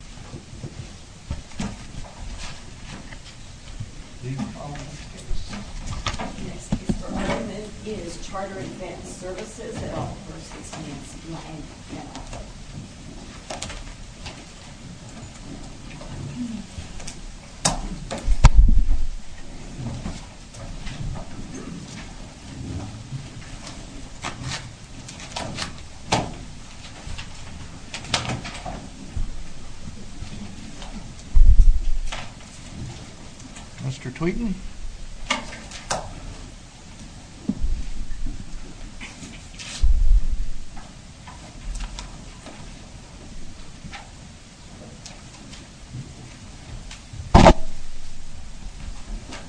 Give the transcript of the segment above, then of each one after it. The next case for amendment is Charter Advanced Services v. Nancy Lange. Mr. Tweeten. Andrew Tweeten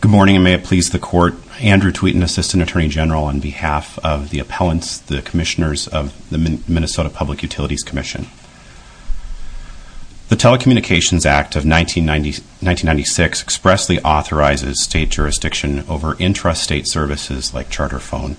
Good morning, and may it please the court. Andrew Tweeten, Assistant Attorney General, on behalf of the appellants, the commissioners of the Minnesota Public Utilities Commission. The Telecommunications Act of 1996 expressly authorizes state jurisdiction over intrastate services like Charter Phone.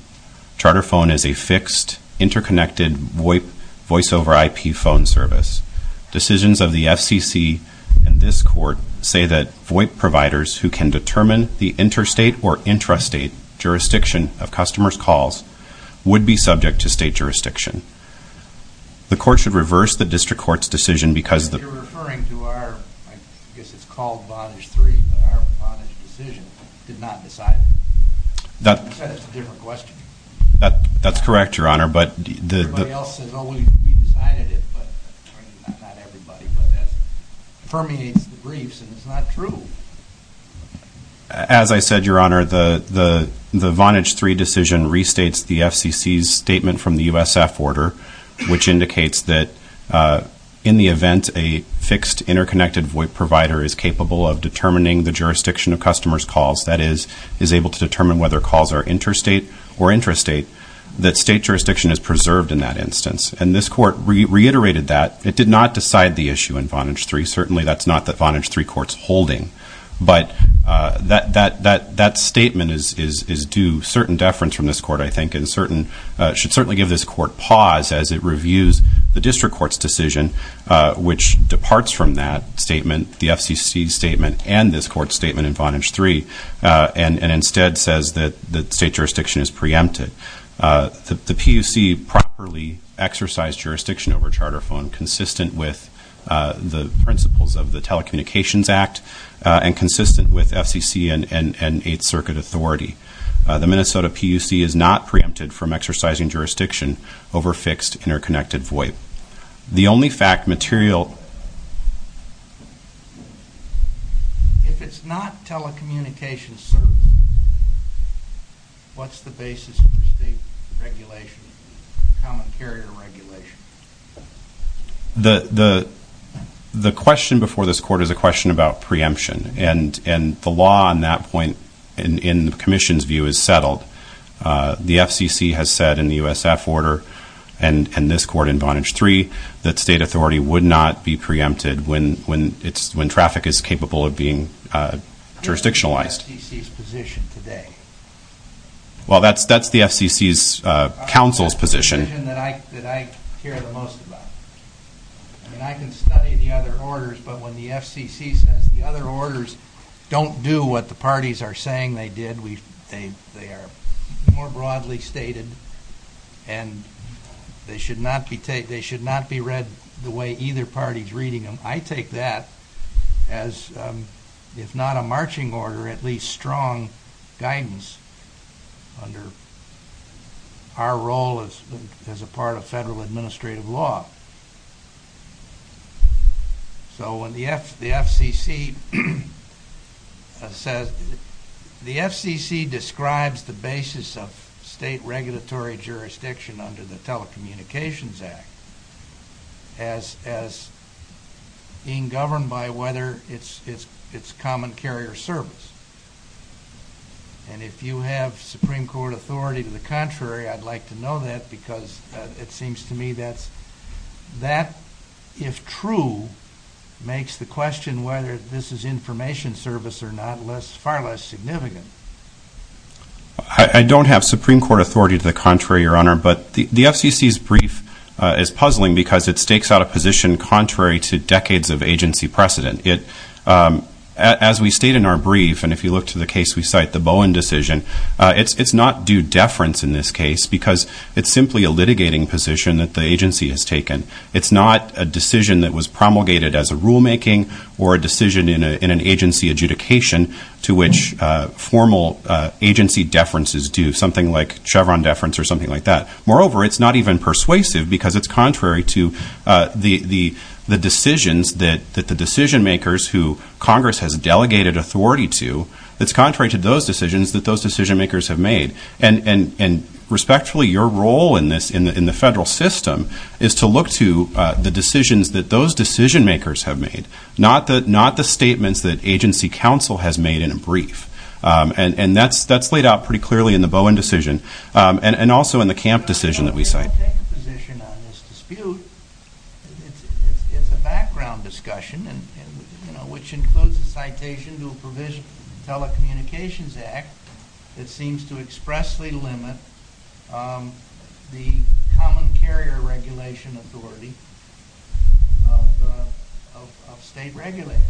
Charter Phone is a fixed, interconnected voice-over IP phone service. Decisions of the FCC and this court say that VoIP providers who can determine the interstate or intrastate jurisdiction of customers' calls would be subject to state jurisdiction. The court should reverse the district court's decision because... That's correct, Your Honor, but... As I said, Your Honor, the Vonage 3 decision restates the FCC's statement from the USF order, which indicates that in the event a fixed, interconnected VoIP provider is capable of determining the jurisdiction of customers' calls, that is, is able to determine whether calls are interstate or intrastate, that state jurisdiction is preserved in that instance. And this court reiterated that. It did not decide the issue in Vonage 3. Certainly, that's not the Vonage 3 court's holding. But that statement is due certain deference from this court, I think, and should certainly give this court pause as it reviews the district court's decision, which departs from that statement, the FCC's statement, and this court's statement in Vonage 3, and instead says that state jurisdiction is preempted. The PUC properly exercised jurisdiction over Charter Phone consistent with the principles of the Telecommunications Act and consistent with FCC and Eighth Circuit authority. The Minnesota PUC is not preempted from exercising jurisdiction over fixed, interconnected VoIP. The only fact material... If it's not telecommunications service, what's the basis for state regulation, common carrier regulation? The question before this court is a question about preemption, and the law on that point, in the commission's view, is settled. The FCC has said in the USF order and this court in Vonage 3 that state authority would not be preempted when traffic is capable of being jurisdictionalized. That's the FCC's position today. Well, that's the FCC's counsel's position. That's the position that I care the most about. I mean, I can study the other orders, but when the FCC says the other orders don't do what the parties are saying they did, they are more broadly stated, and they should not be read the way either party's reading them. I take that as, if not a marching order, at least strong guidance under our role as a part of federal administrative law. So when the FCC says... The FCC describes the basis of state regulatory jurisdiction under the Telecommunications Act as being governed by whether it's common carrier service. And if you have Supreme Court authority to the contrary, I'd like to know that, because it seems to me that, if true, makes the question whether this is information service or not far less significant. I don't have Supreme Court authority to the contrary, Your Honor, but the FCC's brief is puzzling because it stakes out a position contrary to decades of agency precedent. As we state in our brief, and if you look to the case we cite, the Bowen decision, it's not due deference in this case because it's simply a litigating position that the agency has taken. It's not a decision that was promulgated as a rulemaking or a decision in an agency adjudication to which formal agency deferences do something like Chevron deference or something like that. Moreover, it's not even persuasive because it's contrary to the decisions that the decision makers, who Congress has delegated authority to, it's contrary to those decisions that those decision makers have made. And respectfully, your role in this, in the federal system, is to look to the decisions that those decision makers have made, not the statements that agency counsel has made in a brief. And that's laid out pretty clearly in the Bowen decision and also in the Camp decision that we cite. If I take a position on this dispute, it's a background discussion, which includes a citation to a provision in the Telecommunications Act that seems to expressly limit the common carrier regulation authority of state regulators.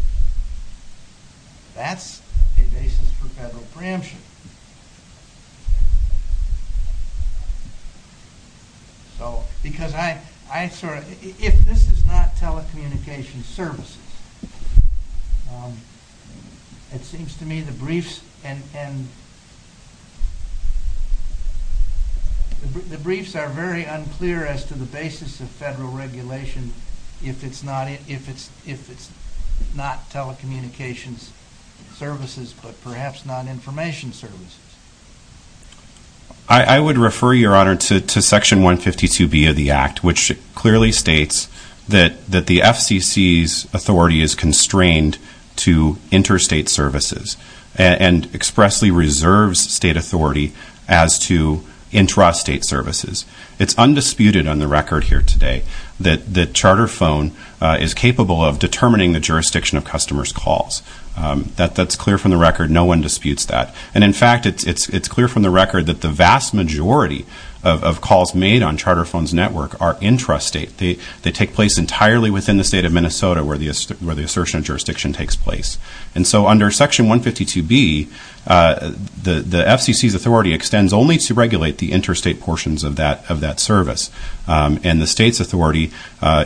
That's a basis for federal preemption. Because if this is not telecommunications services, it seems to me the briefs are very unclear as to the basis of federal regulation if it's not telecommunications services, but perhaps not information services. I would refer, your Honor, to Section 152B of the Act, which clearly states that the FCC's authority is constrained to interstate services and expressly reserves state authority as to intrastate services. It's undisputed on the record here today that Charterphone is capable of determining the jurisdiction of customers' calls. That's clear from the record. No one disputes that. And in fact, it's clear from the record that the vast majority of calls made on Charterphone's network are intrastate. They take place entirely within the state of Minnesota where the assertion of jurisdiction takes place. And so under Section 152B, the FCC's authority extends only to regulate the interstate portions of that service, and the state's authority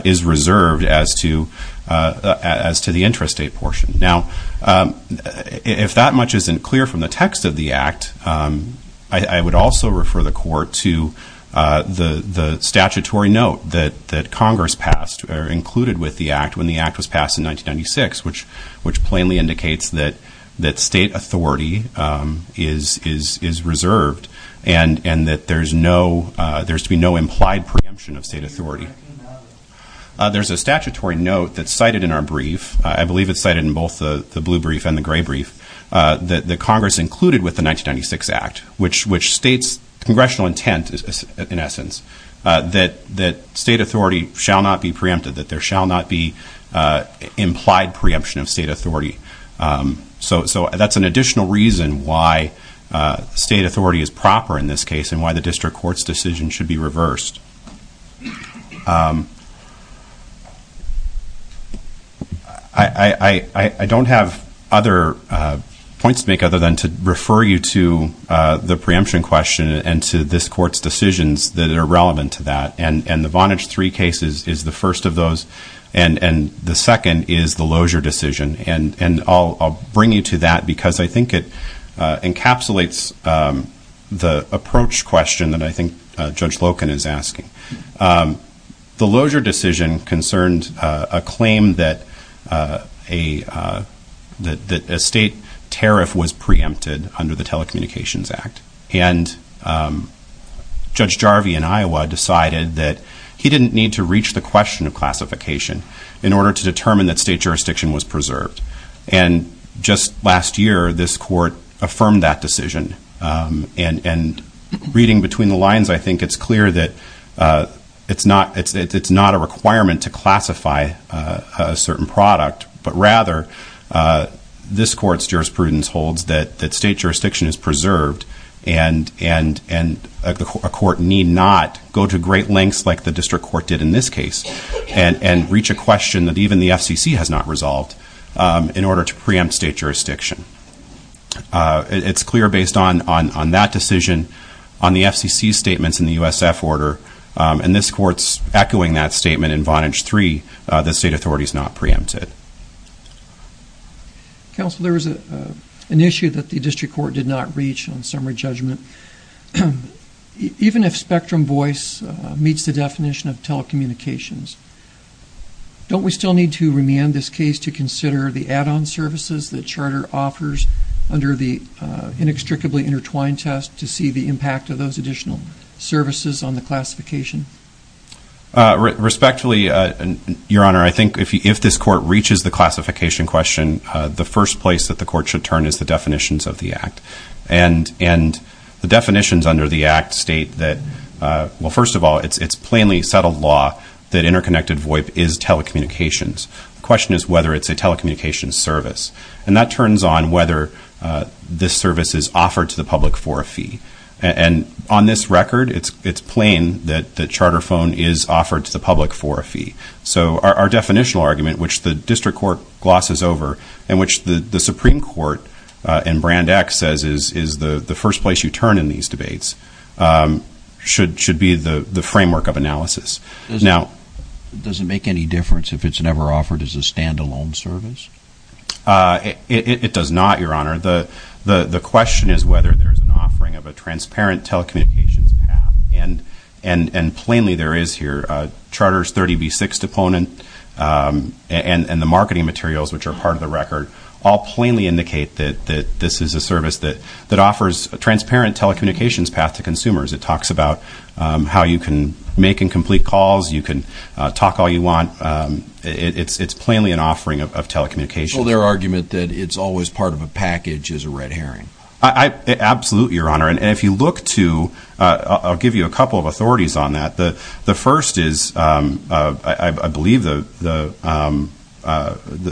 is reserved as to the intrastate portion. Now, if that much isn't clear from the text of the Act, I would also refer the Court to the statutory note that Congress passed or included with the Act when the Act was passed in 1996, which plainly indicates that state authority is reserved and that there's to be no implied preemption of state authority. There's a statutory note that's cited in our brief. I believe it's cited in both the blue brief and the gray brief that Congress included with the 1996 Act, which states congressional intent, in essence, that state authority shall not be preempted, that there shall not be implied preemption of state authority. So that's an additional reason why state authority is proper in this case and why the District Court's decision should be reversed. I don't have other points to make other than to refer you to the preemption question and to this Court's decisions that are relevant to that. And the Vonage III case is the first of those. And the second is the Lozier decision. And I'll bring you to that because I think it encapsulates the approach question that I think Judge Loken is asking. The Lozier decision concerned a claim that a state tariff was preempted under the Telecommunications Act. And Judge Jarvie in Iowa decided that he didn't need to reach the question of classification in order to determine that state jurisdiction was preserved. And just last year, this Court affirmed that decision. And reading between the lines, I think it's clear that it's not a requirement to classify a certain product, but rather this Court's jurisprudence holds that state jurisdiction is preserved and a court need not go to great lengths like the District Court did in this case and reach a question that even the FCC has not resolved in order to preempt state jurisdiction. It's clear based on that decision, on the FCC's statements in the USF order, and this Court's echoing that statement in Vonage III that state authority is not preempted. Counsel, there was an issue that the District Court did not reach on summary judgment. Even if spectrum voice meets the definition of telecommunications, don't we still need to remand this case to consider the add-on services that Charter offers under the inextricably intertwined test to see the impact of those additional services on the classification? Respectfully, Your Honor, I think if this Court reaches the classification question, the first place that the Court should turn is the definitions of the Act. And the definitions under the Act state that, well, first of all, it's plainly settled law that interconnected VOIP is telecommunications. The question is whether it's a telecommunications service. And that turns on whether this service is offered to the public for a fee. And on this record, it's plain that Charter phone is offered to the public for a fee. So our definitional argument, which the District Court glosses over, and which the Supreme Court in Brand X says is the first place you turn in these debates, should be the framework of analysis. Does it make any difference if it's never offered as a stand-alone service? It does not, Your Honor. The question is whether there's an offering of a transparent telecommunications path. And plainly there is here. Charter's 30B6 deponent and the marketing materials, which are part of the record, all plainly indicate that this is a service that offers a transparent telecommunications path to consumers. It talks about how you can make incomplete calls. You can talk all you want. It's plainly an offering of telecommunications. So their argument that it's always part of a package is a red herring. Absolutely, Your Honor. And if you look to, I'll give you a couple of authorities on that. The first is, I believe, the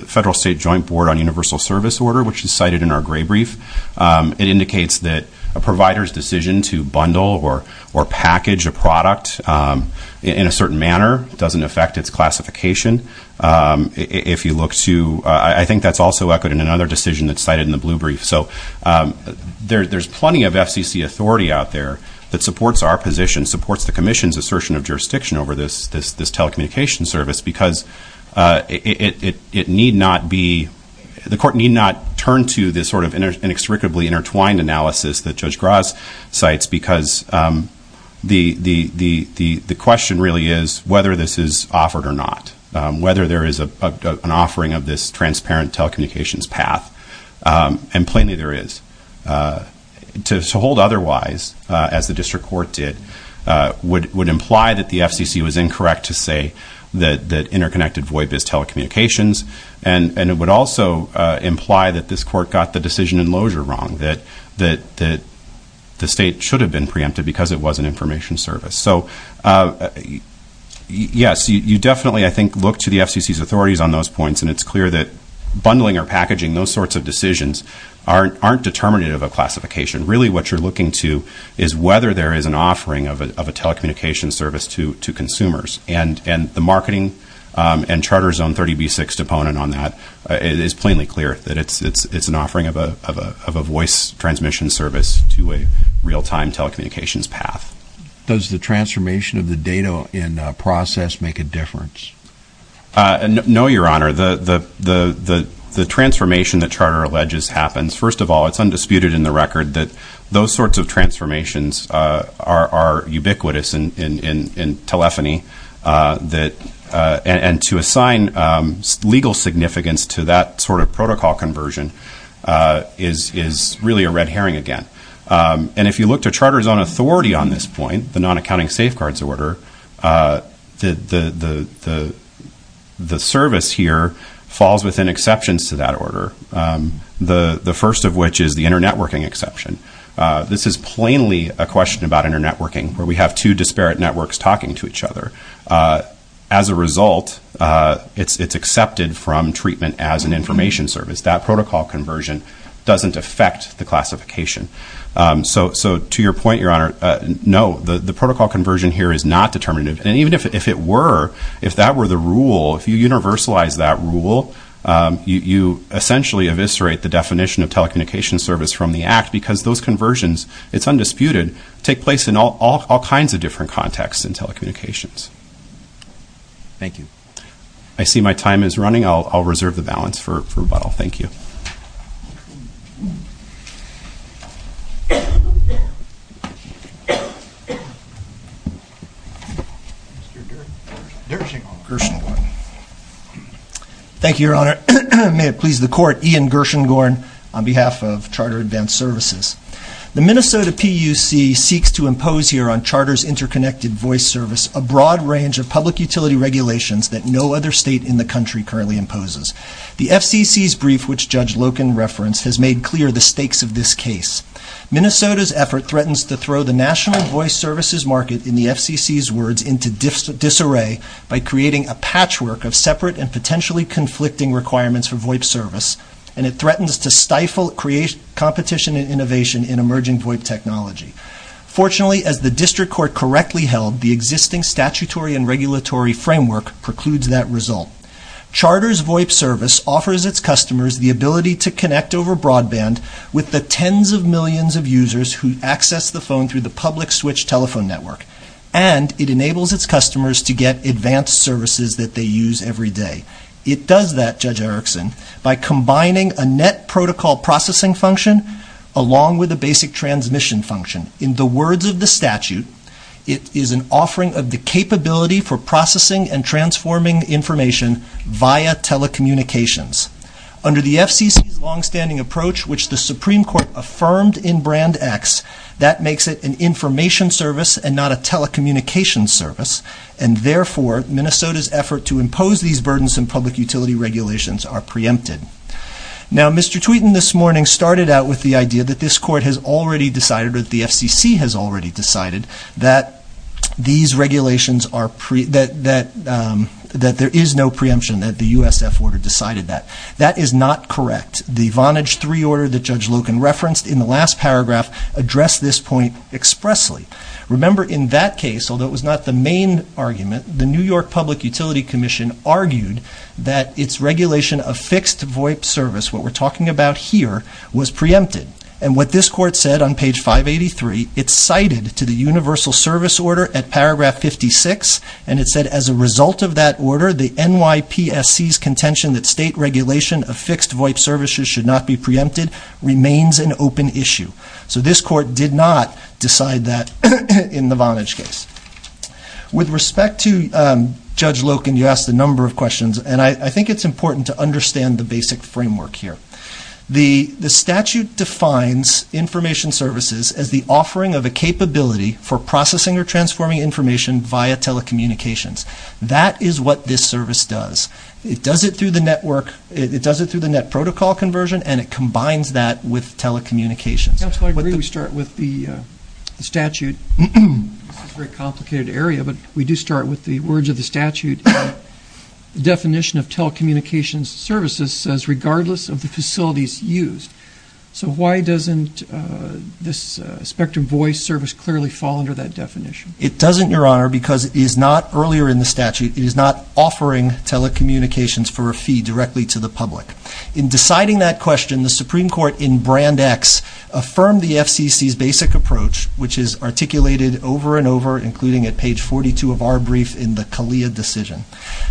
Federal-State Joint Board on Universal Service Order, which is cited in our gray brief. It indicates that a provider's decision to bundle or package a product in a certain manner doesn't affect its classification. If you look to, I think that's also echoed in another decision that's cited in the blue brief. So there's plenty of FCC authority out there that supports our position, supports the Commission's assertion of jurisdiction over this telecommunications service, because it need not be, the court need not turn to this sort of inextricably intertwined analysis that Judge Graz cites, because the question really is whether this is offered or not, whether there is an offering of this transparent telecommunications path. And plainly there is. To hold otherwise, as the district court did, would imply that the FCC was incorrect to say that interconnected VOIP is telecommunications, and it would also imply that this court got the decision in loger wrong, that the state should have been preempted because it was an information service. So, yes, you definitely, I think, look to the FCC's authorities on those points, and it's clear that bundling or packaging, those sorts of decisions, aren't determinative of classification. Really what you're looking to is whether there is an offering of a telecommunications service to consumers. And the marketing and Charter's own 30B6 component on that is plainly clear, that it's an offering of a voice transmission service to a real-time telecommunications path. Does the transformation of the data in process make a difference? No, Your Honor. The transformation that Charter alleges happens, first of all, it's undisputed in the record that those sorts of transformations are ubiquitous in telephony, and to assign legal significance to that sort of protocol conversion is really a red herring again. And if you look to Charter's own authority on this point, the non-accounting safeguards order, the service here falls within exceptions to that order, the first of which is the internetworking exception. This is plainly a question about internetworking, where we have two disparate networks talking to each other. As a result, it's accepted from treatment as an information service. That protocol conversion doesn't affect the classification. So to your point, Your Honor, no, the protocol conversion here is not determinative. And even if it were, if that were the rule, if you universalize that rule, you essentially eviscerate the definition of telecommunication service from the Act, because those conversions, it's undisputed, take place in all kinds of different contexts in telecommunications. Thank you. I see my time is running. I'll reserve the balance for a while. Thank you. Mr. Gershengorn. Thank you, Your Honor. May it please the Court, Ian Gershengorn on behalf of Charter Advanced Services. The Minnesota PUC seeks to impose here on Charter's interconnected voice service a broad range of public utility regulations that no other state in the country currently imposes. The FCC's brief, which Judge Loken referenced, has made clear the stakes of this case. Minnesota's effort threatens to throw the national voice services market, in the FCC's words, into disarray by creating a patchwork of separate and potentially conflicting requirements for VOIP service, and it threatens to stifle competition and innovation in emerging VOIP technology. Fortunately, as the District Court correctly held, the existing statutory and regulatory framework precludes that result. Charter's VOIP service offers its customers the ability to connect over broadband with the tens of millions of users who access the phone through the public switch telephone network, and it enables its customers to get advanced services that they use every day. It does that, Judge Erickson, by combining a net protocol processing function along with a basic transmission function. In the words of the statute, it is an offering of the capability for processing and transforming information via telecommunications. Under the FCC's longstanding approach, which the Supreme Court affirmed in Brand X, that makes it an information service and not a telecommunications service, and therefore Minnesota's effort to impose these burdensome public utility regulations are preempted. Now, Mr. Tweeten this morning started out with the idea that this Court has already decided, or that the FCC has already decided, that there is no preemption, that the USF order decided that. That is not correct. The Vonage III order that Judge Loken referenced in the last paragraph addressed this point expressly. Remember, in that case, although it was not the main argument, the New York Public Utility Commission argued that its regulation of fixed VOIP service, what we're talking about here, was preempted. And what this Court said on page 583, it cited to the Universal Service Order at paragraph 56, and it said as a result of that order, the NYPSC's contention that state regulation of fixed VOIP services should not be preempted, remains an open issue. So this Court did not decide that in the Vonage case. With respect to Judge Loken, you asked a number of questions, and I think it's important to understand the basic framework here. The statute defines information services as the offering of a capability for processing or transforming information via telecommunications. That is what this service does. It does it through the network, it does it through the net protocol conversion, and it combines that with telecommunications. Counsel, I agree we start with the statute. This is a very complicated area, but we do start with the words of the statute. The definition of telecommunications services says regardless of the facilities used. So why doesn't this Spectrum Voice service clearly fall under that definition? It doesn't, Your Honor, because it is not, earlier in the statute, it is not offering telecommunications for a fee directly to the public. In deciding that question, the Supreme Court in Brand X affirmed the FCC's basic approach, which is articulated over and over, including at page 42 of our brief in the CALEA decision,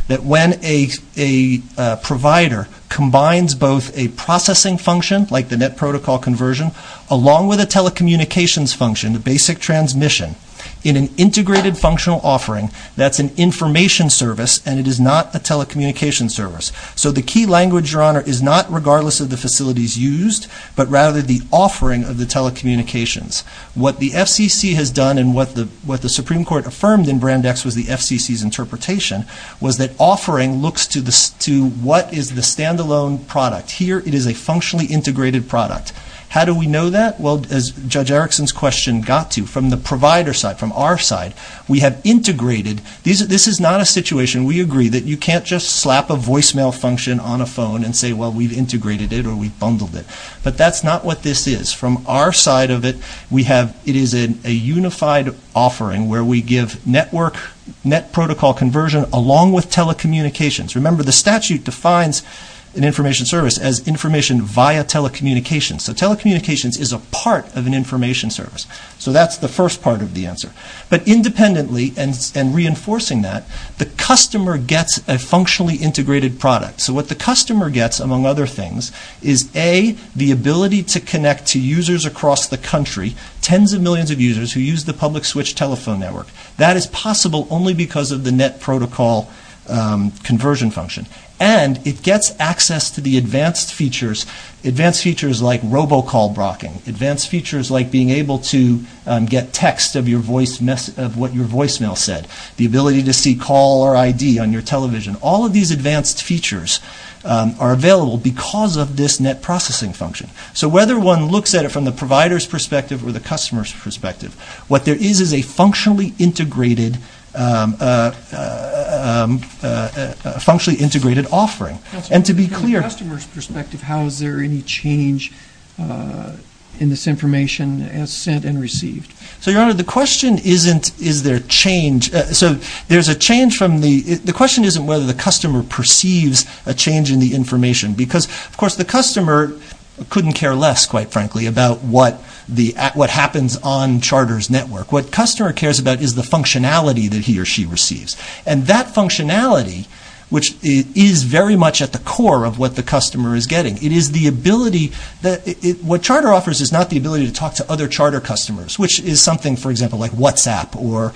that when a provider combines both a processing function, like the net protocol conversion, along with a telecommunications function, the basic transmission, in an integrated functional offering, that's an information service, and it is not a telecommunications service. So the key language, Your Honor, is not regardless of the facilities used, but rather the offering of the telecommunications. What the FCC has done and what the Supreme Court affirmed in Brand X was the FCC's interpretation, was that offering looks to what is the standalone product. Here it is a functionally integrated product. How do we know that? Well, as Judge Erickson's question got to, from the provider side, from our side, we have integrated, this is not a situation, we agree, that you can't just slap a voicemail function on a phone and say, well, we've integrated it or we've bundled it. But that's not what this is. From our side of it, we have, it is a unified offering where we give network, net protocol conversion, along with telecommunications. Remember, the statute defines an information service as information via telecommunications. So telecommunications is a part of an information service. So that's the first part of the answer. But independently, and reinforcing that, the customer gets a functionally integrated product. So what the customer gets, among other things, is A, the ability to connect to users across the country, tens of millions of users who use the public switch telephone network. That is possible only because of the net protocol conversion function. And it gets access to the advanced features, advanced features like robocall blocking, advanced features like being able to get text of what your voicemail said, the ability to see call or ID on your television. All of these advanced features are available because of this net processing function. So whether one looks at it from the provider's perspective or the customer's perspective, what there is is a functionally integrated offering. And to be clear. From the customer's perspective, how is there any change in this information as sent and received? So, Your Honor, the question isn't is there change. The question isn't whether the customer perceives a change in the information. Because, of course, the customer couldn't care less, quite frankly, about what happens on Charter's network. What the customer cares about is the functionality that he or she receives. And that functionality, which is very much at the core of what the customer is getting, it is the ability. What Charter offers is not the ability to talk to other Charter customers, which is something, for example, like WhatsApp or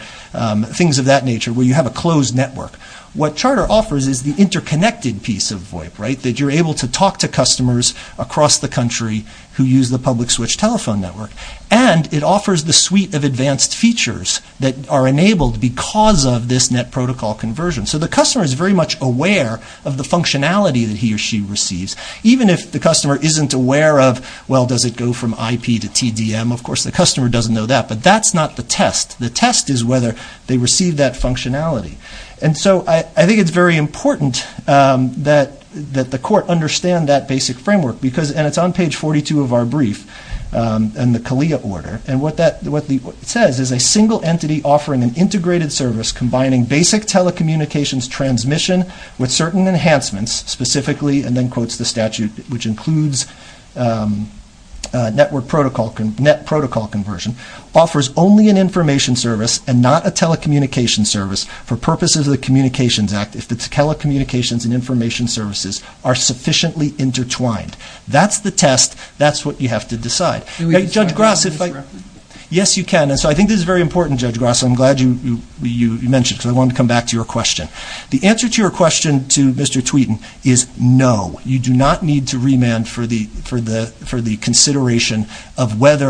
things of that nature where you have a closed network. What Charter offers is the interconnected piece of VoIP, right, that you're able to talk to customers across the country who use the public switch telephone network. And it offers the suite of advanced features that are enabled because of this net protocol conversion. So the customer is very much aware of the functionality that he or she receives. Even if the customer isn't aware of, well, does it go from IP to TDM, of course the customer doesn't know that, but that's not the test. The test is whether they receive that functionality. And so I think it's very important that the court understand that basic framework. And it's on page 42 of our brief in the CALEA order. And what it says is a single entity offering an integrated service combining basic telecommunications transmission with certain enhancements, specifically, and then quotes the statute, which includes network protocol, net protocol conversion, offers only an information service and not a telecommunications service for purposes of the Communications Act if the telecommunications and information services are sufficiently intertwined. That's the test. That's what you have to decide. Judge Grasso, if I can. Yes, you can. And so I think this is very important, Judge Grasso. I'm glad you mentioned it because I wanted to come back to your question. The answer to your question to Mr. Tweeten is no. You do not need to remand for the consideration of whether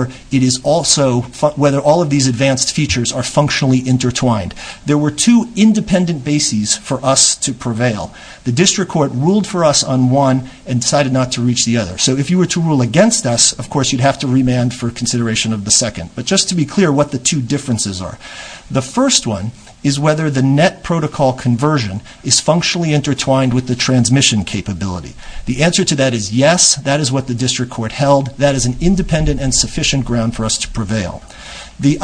all of these advanced features are functionally intertwined. There were two independent bases for us to prevail. The district court ruled for us on one and decided not to reach the other. So if you were to rule against us, of course, you'd have to remand for consideration of the second. But just to be clear what the two differences are. The first one is whether the net protocol conversion is functionally intertwined with the transmission capability. The answer to that is yes. That is what the district court held. That is an independent and sufficient ground for us to prevail. The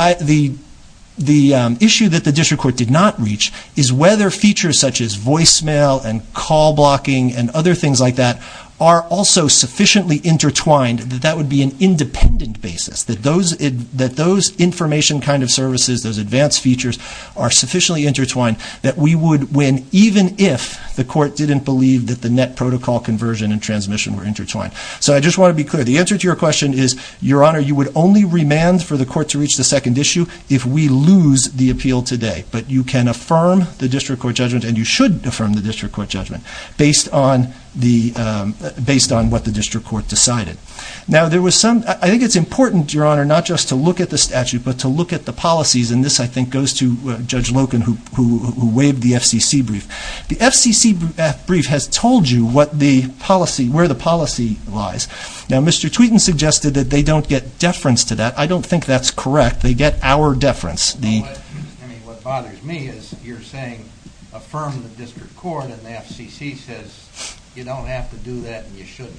issue that the district court did not reach is whether features such as voicemail and call blocking and other things like that are also sufficiently intertwined that that would be an independent basis, that those information kind of services, those advanced features are sufficiently intertwined that we would win even if the court didn't believe that the net protocol conversion and transmission were intertwined. So I just want to be clear. The answer to your question is, Your Honor, you would only remand for the court to reach the second issue if we lose the appeal today. But you can affirm the district court judgment and you should affirm the district court judgment based on what the district court decided. Now there was some, I think it's important, Your Honor, not just to look at the statute but to look at the policies and this I think goes to Judge Loken who waived the FCC brief. The FCC brief has told you what the policy, where the policy lies. Now Mr. Tweetin suggested that they don't get deference to that. I don't think that's correct. They get our deference. I mean what bothers me is you're saying affirm the district court and the FCC says you don't have to do that and you shouldn't.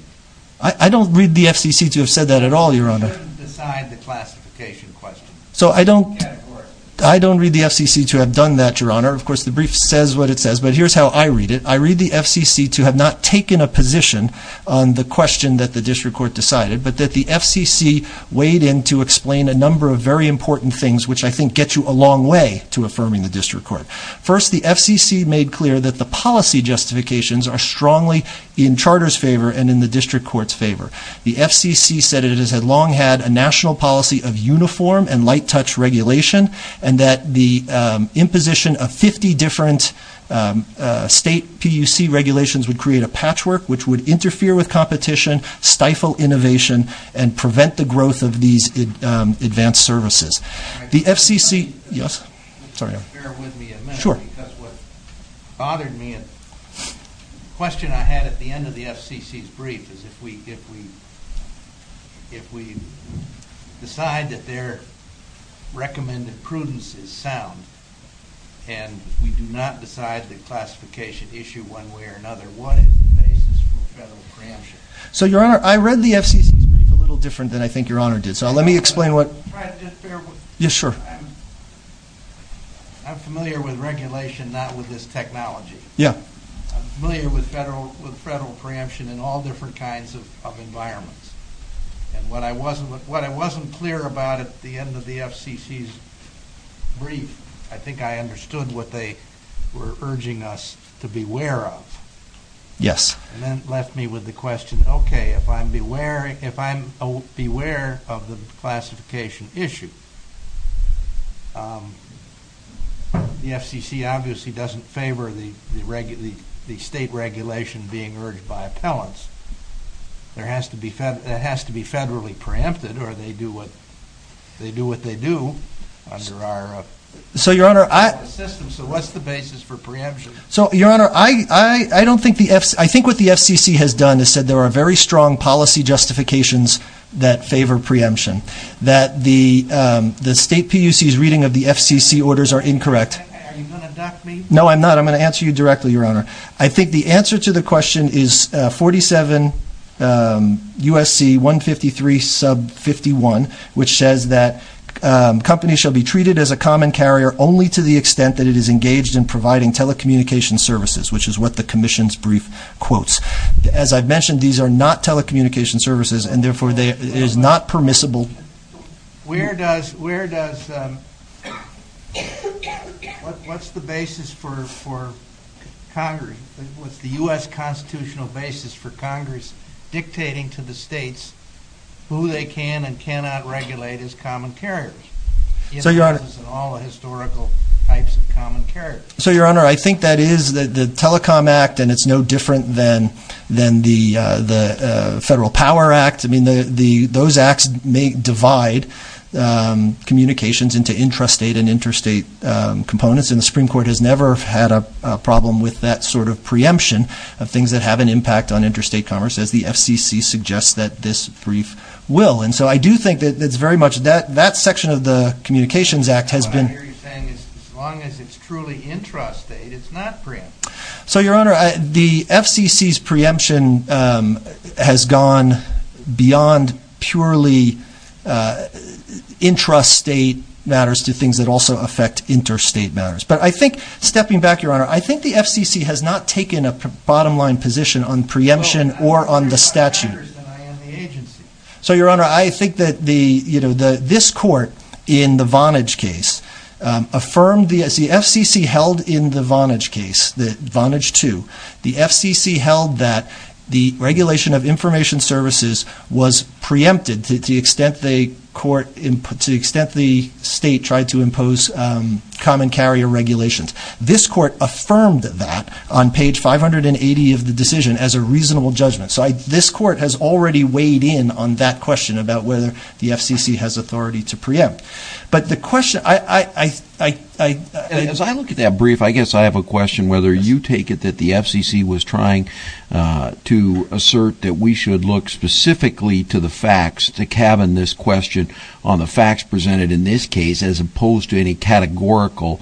I don't read the FCC to have said that at all, Your Honor. You shouldn't decide the classification question. So I don't read the FCC to have done that, Your Honor. Of course the brief says what it says but here's how I read it. I read the FCC to have not taken a position on the question that the district court decided but that the FCC weighed in to explain a number of very important things which I think get you a long way to affirming the district court. First, the FCC made clear that the policy justifications are strongly in charter's favor and in the district court's favor. The FCC said it has long had a national policy of uniform and light touch regulation and that the imposition of 50 different state PUC regulations would create a patchwork which would interfere with competition, stifle innovation, and prevent the growth of these advanced services. Just bear with me a minute because what bothered me, a question I had at the end of the FCC's brief, is if we decide that their recommended prudence is sound and we do not decide the classification issue one way or another, what is the basis for federal preemption? So Your Honor, I read the FCC's brief a little different than I think Your Honor did. I'm familiar with regulation, not with this technology. I'm familiar with federal preemption in all different kinds of environments. And what I wasn't clear about at the end of the FCC's brief, I think I understood what they were urging us to beware of. And that left me with the question, okay, if I'm beware of the classification issue, the FCC obviously doesn't favor the state regulation being urged by appellants. It has to be federally preempted or they do what they do under our system. So what's the basis for preemption? So Your Honor, I think what the FCC has done is said there are very strong policy justifications that favor preemption, that the state PUC's reading of the FCC orders are incorrect. Are you going to dock me? No, I'm not. I'm going to answer you directly, Your Honor. I think the answer to the question is 47 U.S.C. 153 sub 51, which says that companies shall be treated as a common carrier only to the extent that it is engaged in providing telecommunication services, which is what the commission's brief quotes. As I've mentioned, these are not telecommunication services, and therefore it is not permissible. Where does, what's the basis for Congress, what's the U.S. constitutional basis for Congress dictating to the states who they can and cannot regulate as common carriers? So, Your Honor, I think that is the Telecom Act, and it's no different than the Federal Power Act. I mean, those acts may divide communications into intrastate and interstate components, and the Supreme Court has never had a problem with that sort of preemption of things that have an impact on interstate commerce, as the FCC suggests that this brief will. And so I do think that it's very much, that section of the Communications Act has been... I hear you saying as long as it's truly intrastate, it's not preempted. So, Your Honor, the FCC's preemption has gone beyond purely intrastate matters to things that also affect interstate matters. But I think, stepping back, Your Honor, I think the FCC has not taken a bottom-line position on preemption or on the statute. No, I think it's more matters than I am the agency. So, Your Honor, I think that this court in the Vonage case affirmed, as the FCC held in the Vonage case, the Vonage 2, the FCC held that the regulation of information services was preempted to the extent the state tried to impose common carrier regulations. This court affirmed that on page 580 of the decision as a reasonable judgment. So this court has already weighed in on that question about whether the FCC has authority to preempt. But the question I... As I look at that brief, I guess I have a question, whether you take it that the FCC was trying to assert that we should look specifically to the facts to cabin this question on the facts presented in this case as opposed to any categorical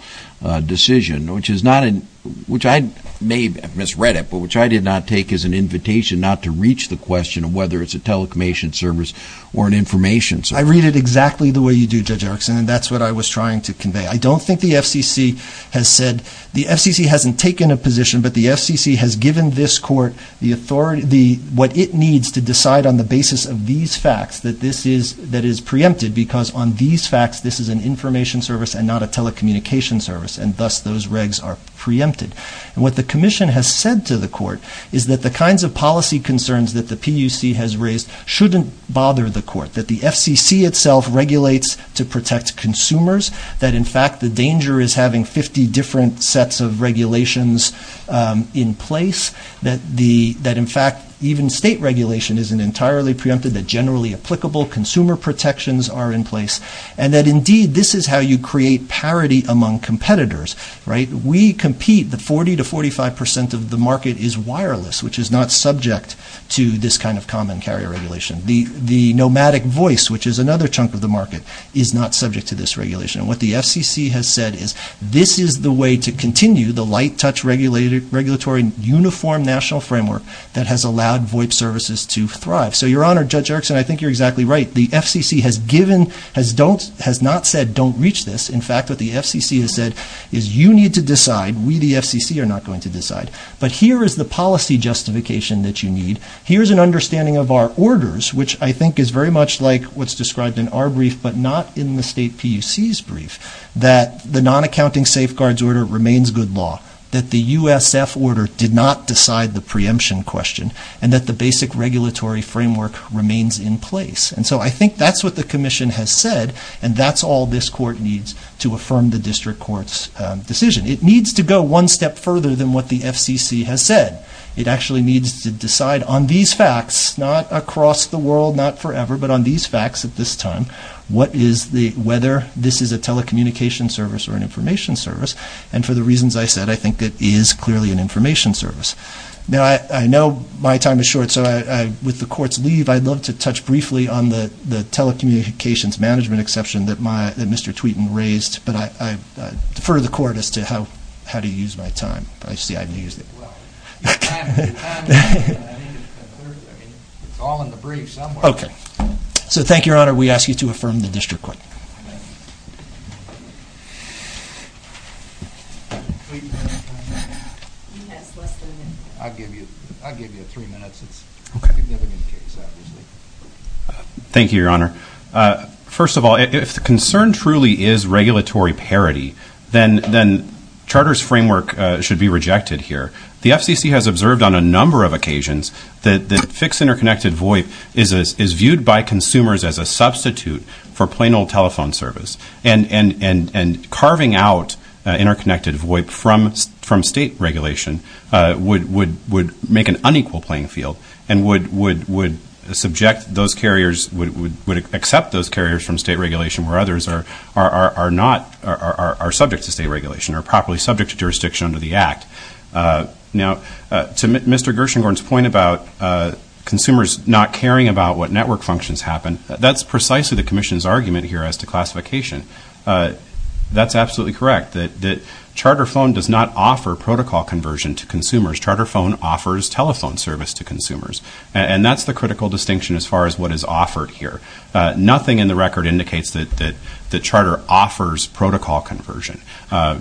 decision, which I may have misread it, but which I did not take as an invitation not to reach the question of whether it's a telecommunication service or an information service. I read it exactly the way you do, Judge Erickson, and that's what I was trying to convey. I don't think the FCC has said... The FCC hasn't taken a position, but the FCC has given this court the authority... what it needs to decide on the basis of these facts that this is... that is preempted because on these facts this is an information service and not a telecommunication service, and thus those regs are preempted. And what the commission has said to the court is that the kinds of policy concerns that the PUC has raised shouldn't bother the court, that the FCC itself regulates to protect consumers, that in fact the danger is having 50 different sets of regulations in place, that in fact even state regulation isn't entirely preempted, that generally applicable consumer protections are in place, and that indeed this is how you create parity among competitors. We compete, the 40 to 45 percent of the market is wireless, which is not subject to this kind of common carrier regulation. The nomadic voice, which is another chunk of the market, is not subject to this regulation. And what the FCC has said is this is the way to continue the light-touch regulatory uniform national framework that has allowed VoIP services to thrive. So, Your Honor, Judge Erickson, I think you're exactly right. What the FCC has given has not said don't reach this. In fact, what the FCC has said is you need to decide. We, the FCC, are not going to decide. But here is the policy justification that you need. Here is an understanding of our orders, which I think is very much like what's described in our brief but not in the state PUC's brief, that the non-accounting safeguards order remains good law, that the USF order did not decide the preemption question, and that the basic regulatory framework remains in place. And so I think that's what the Commission has said, and that's all this Court needs to affirm the District Court's decision. It needs to go one step further than what the FCC has said. It actually needs to decide on these facts, not across the world, not forever, but on these facts at this time, whether this is a telecommunication service or an information service. And for the reasons I said, I think it is clearly an information service. Now, I know my time is short, so with the Court's leave, I'd love to touch briefly on the telecommunications management exception that Mr. Tweeten raised. But I defer to the Court as to how to use my time. I see I've used it. Well, your time is up. I mean, it's all in the brief somewhere. Okay. So thank you, Your Honor. We ask you to affirm the District Court. I'll give you three minutes. Okay. Thank you, Your Honor. First of all, if the concern truly is regulatory parity, then Charter's framework should be rejected here. The FCC has observed on a number of occasions that fixed interconnected VOIP is viewed by consumers as a substitute for plain old telephone service. And carving out interconnected VOIP from state regulation would make an unequal playing field and would accept those carriers from state regulation where others are subject to state regulation, are properly subject to jurisdiction under the Act. Now, to Mr. Gershengorn's point about consumers not caring about what network functions happen, that's precisely the Commission's argument here as to classification. That's absolutely correct, that Charter Phone does not offer protocol conversion to consumers. Charter Phone offers telephone service to consumers. And that's the critical distinction as far as what is offered here. Nothing in the record indicates that Charter offers protocol conversion. Well,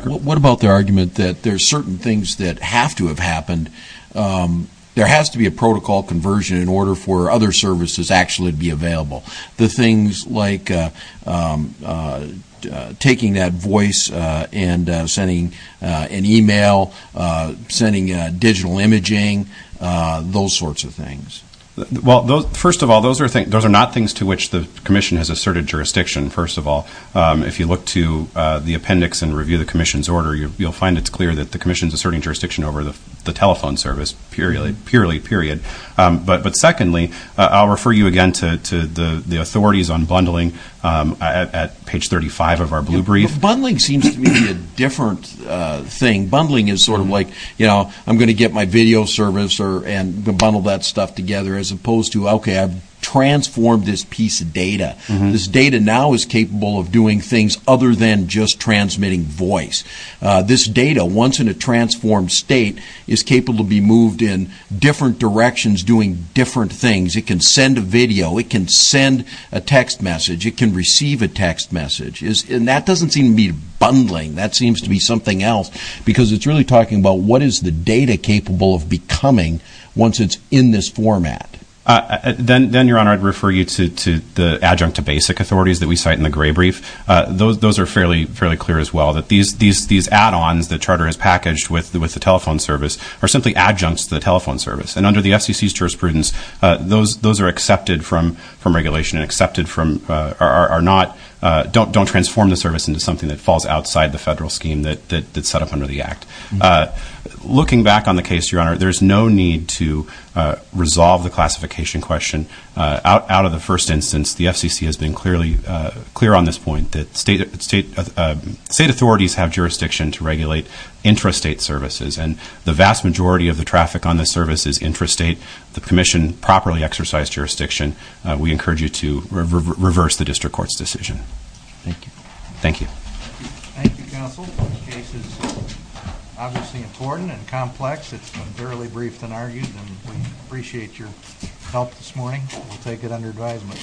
what about the argument that there are certain things that have to have happened? There has to be a protocol conversion in order for other services actually to be available. The things like taking that voice and sending an e-mail, sending digital imaging, those sorts of things. Well, first of all, those are not things to which the Commission has asserted jurisdiction, first of all. If you look to the appendix and review the Commission's order, you'll find it's clear that the Commission is asserting jurisdiction over the telephone service, purely, period. But secondly, I'll refer you again to the authorities on bundling at page 35 of our blue brief. Bundling seems to me a different thing. Bundling is sort of like, you know, I'm going to get my video service and bundle that stuff together, as opposed to, okay, I've transformed this piece of data. This data now is capable of doing things other than just transmitting voice. This data, once in a transformed state, is capable to be moved in different directions doing different things. It can send a video. It can send a text message. It can receive a text message. And that doesn't seem to be bundling. That seems to be something else, because it's really talking about what is the data capable of becoming once it's in this format. Then, Your Honor, I'd refer you to the adjunct to basic authorities that we cite in the gray brief. Those are fairly clear as well, that these add-ons the Charter has packaged with the telephone service are simply adjuncts to the telephone service. And under the FCC's jurisprudence, those are accepted from regulation and accepted from, are not, don't transform the service into something that falls outside the federal scheme that's set up under the Act. Looking back on the case, Your Honor, there's no need to resolve the classification question. Out of the first instance, the FCC has been clear on this point, that state authorities have jurisdiction to regulate intrastate services. And the vast majority of the traffic on this service is intrastate. The Commission properly exercised jurisdiction. We encourage you to reverse the district court's decision. Thank you. Thank you. Thank you, Counsel. This case is obviously important and complex. It's been fairly briefed and argued, and we appreciate your help this morning. We'll take it under advisement.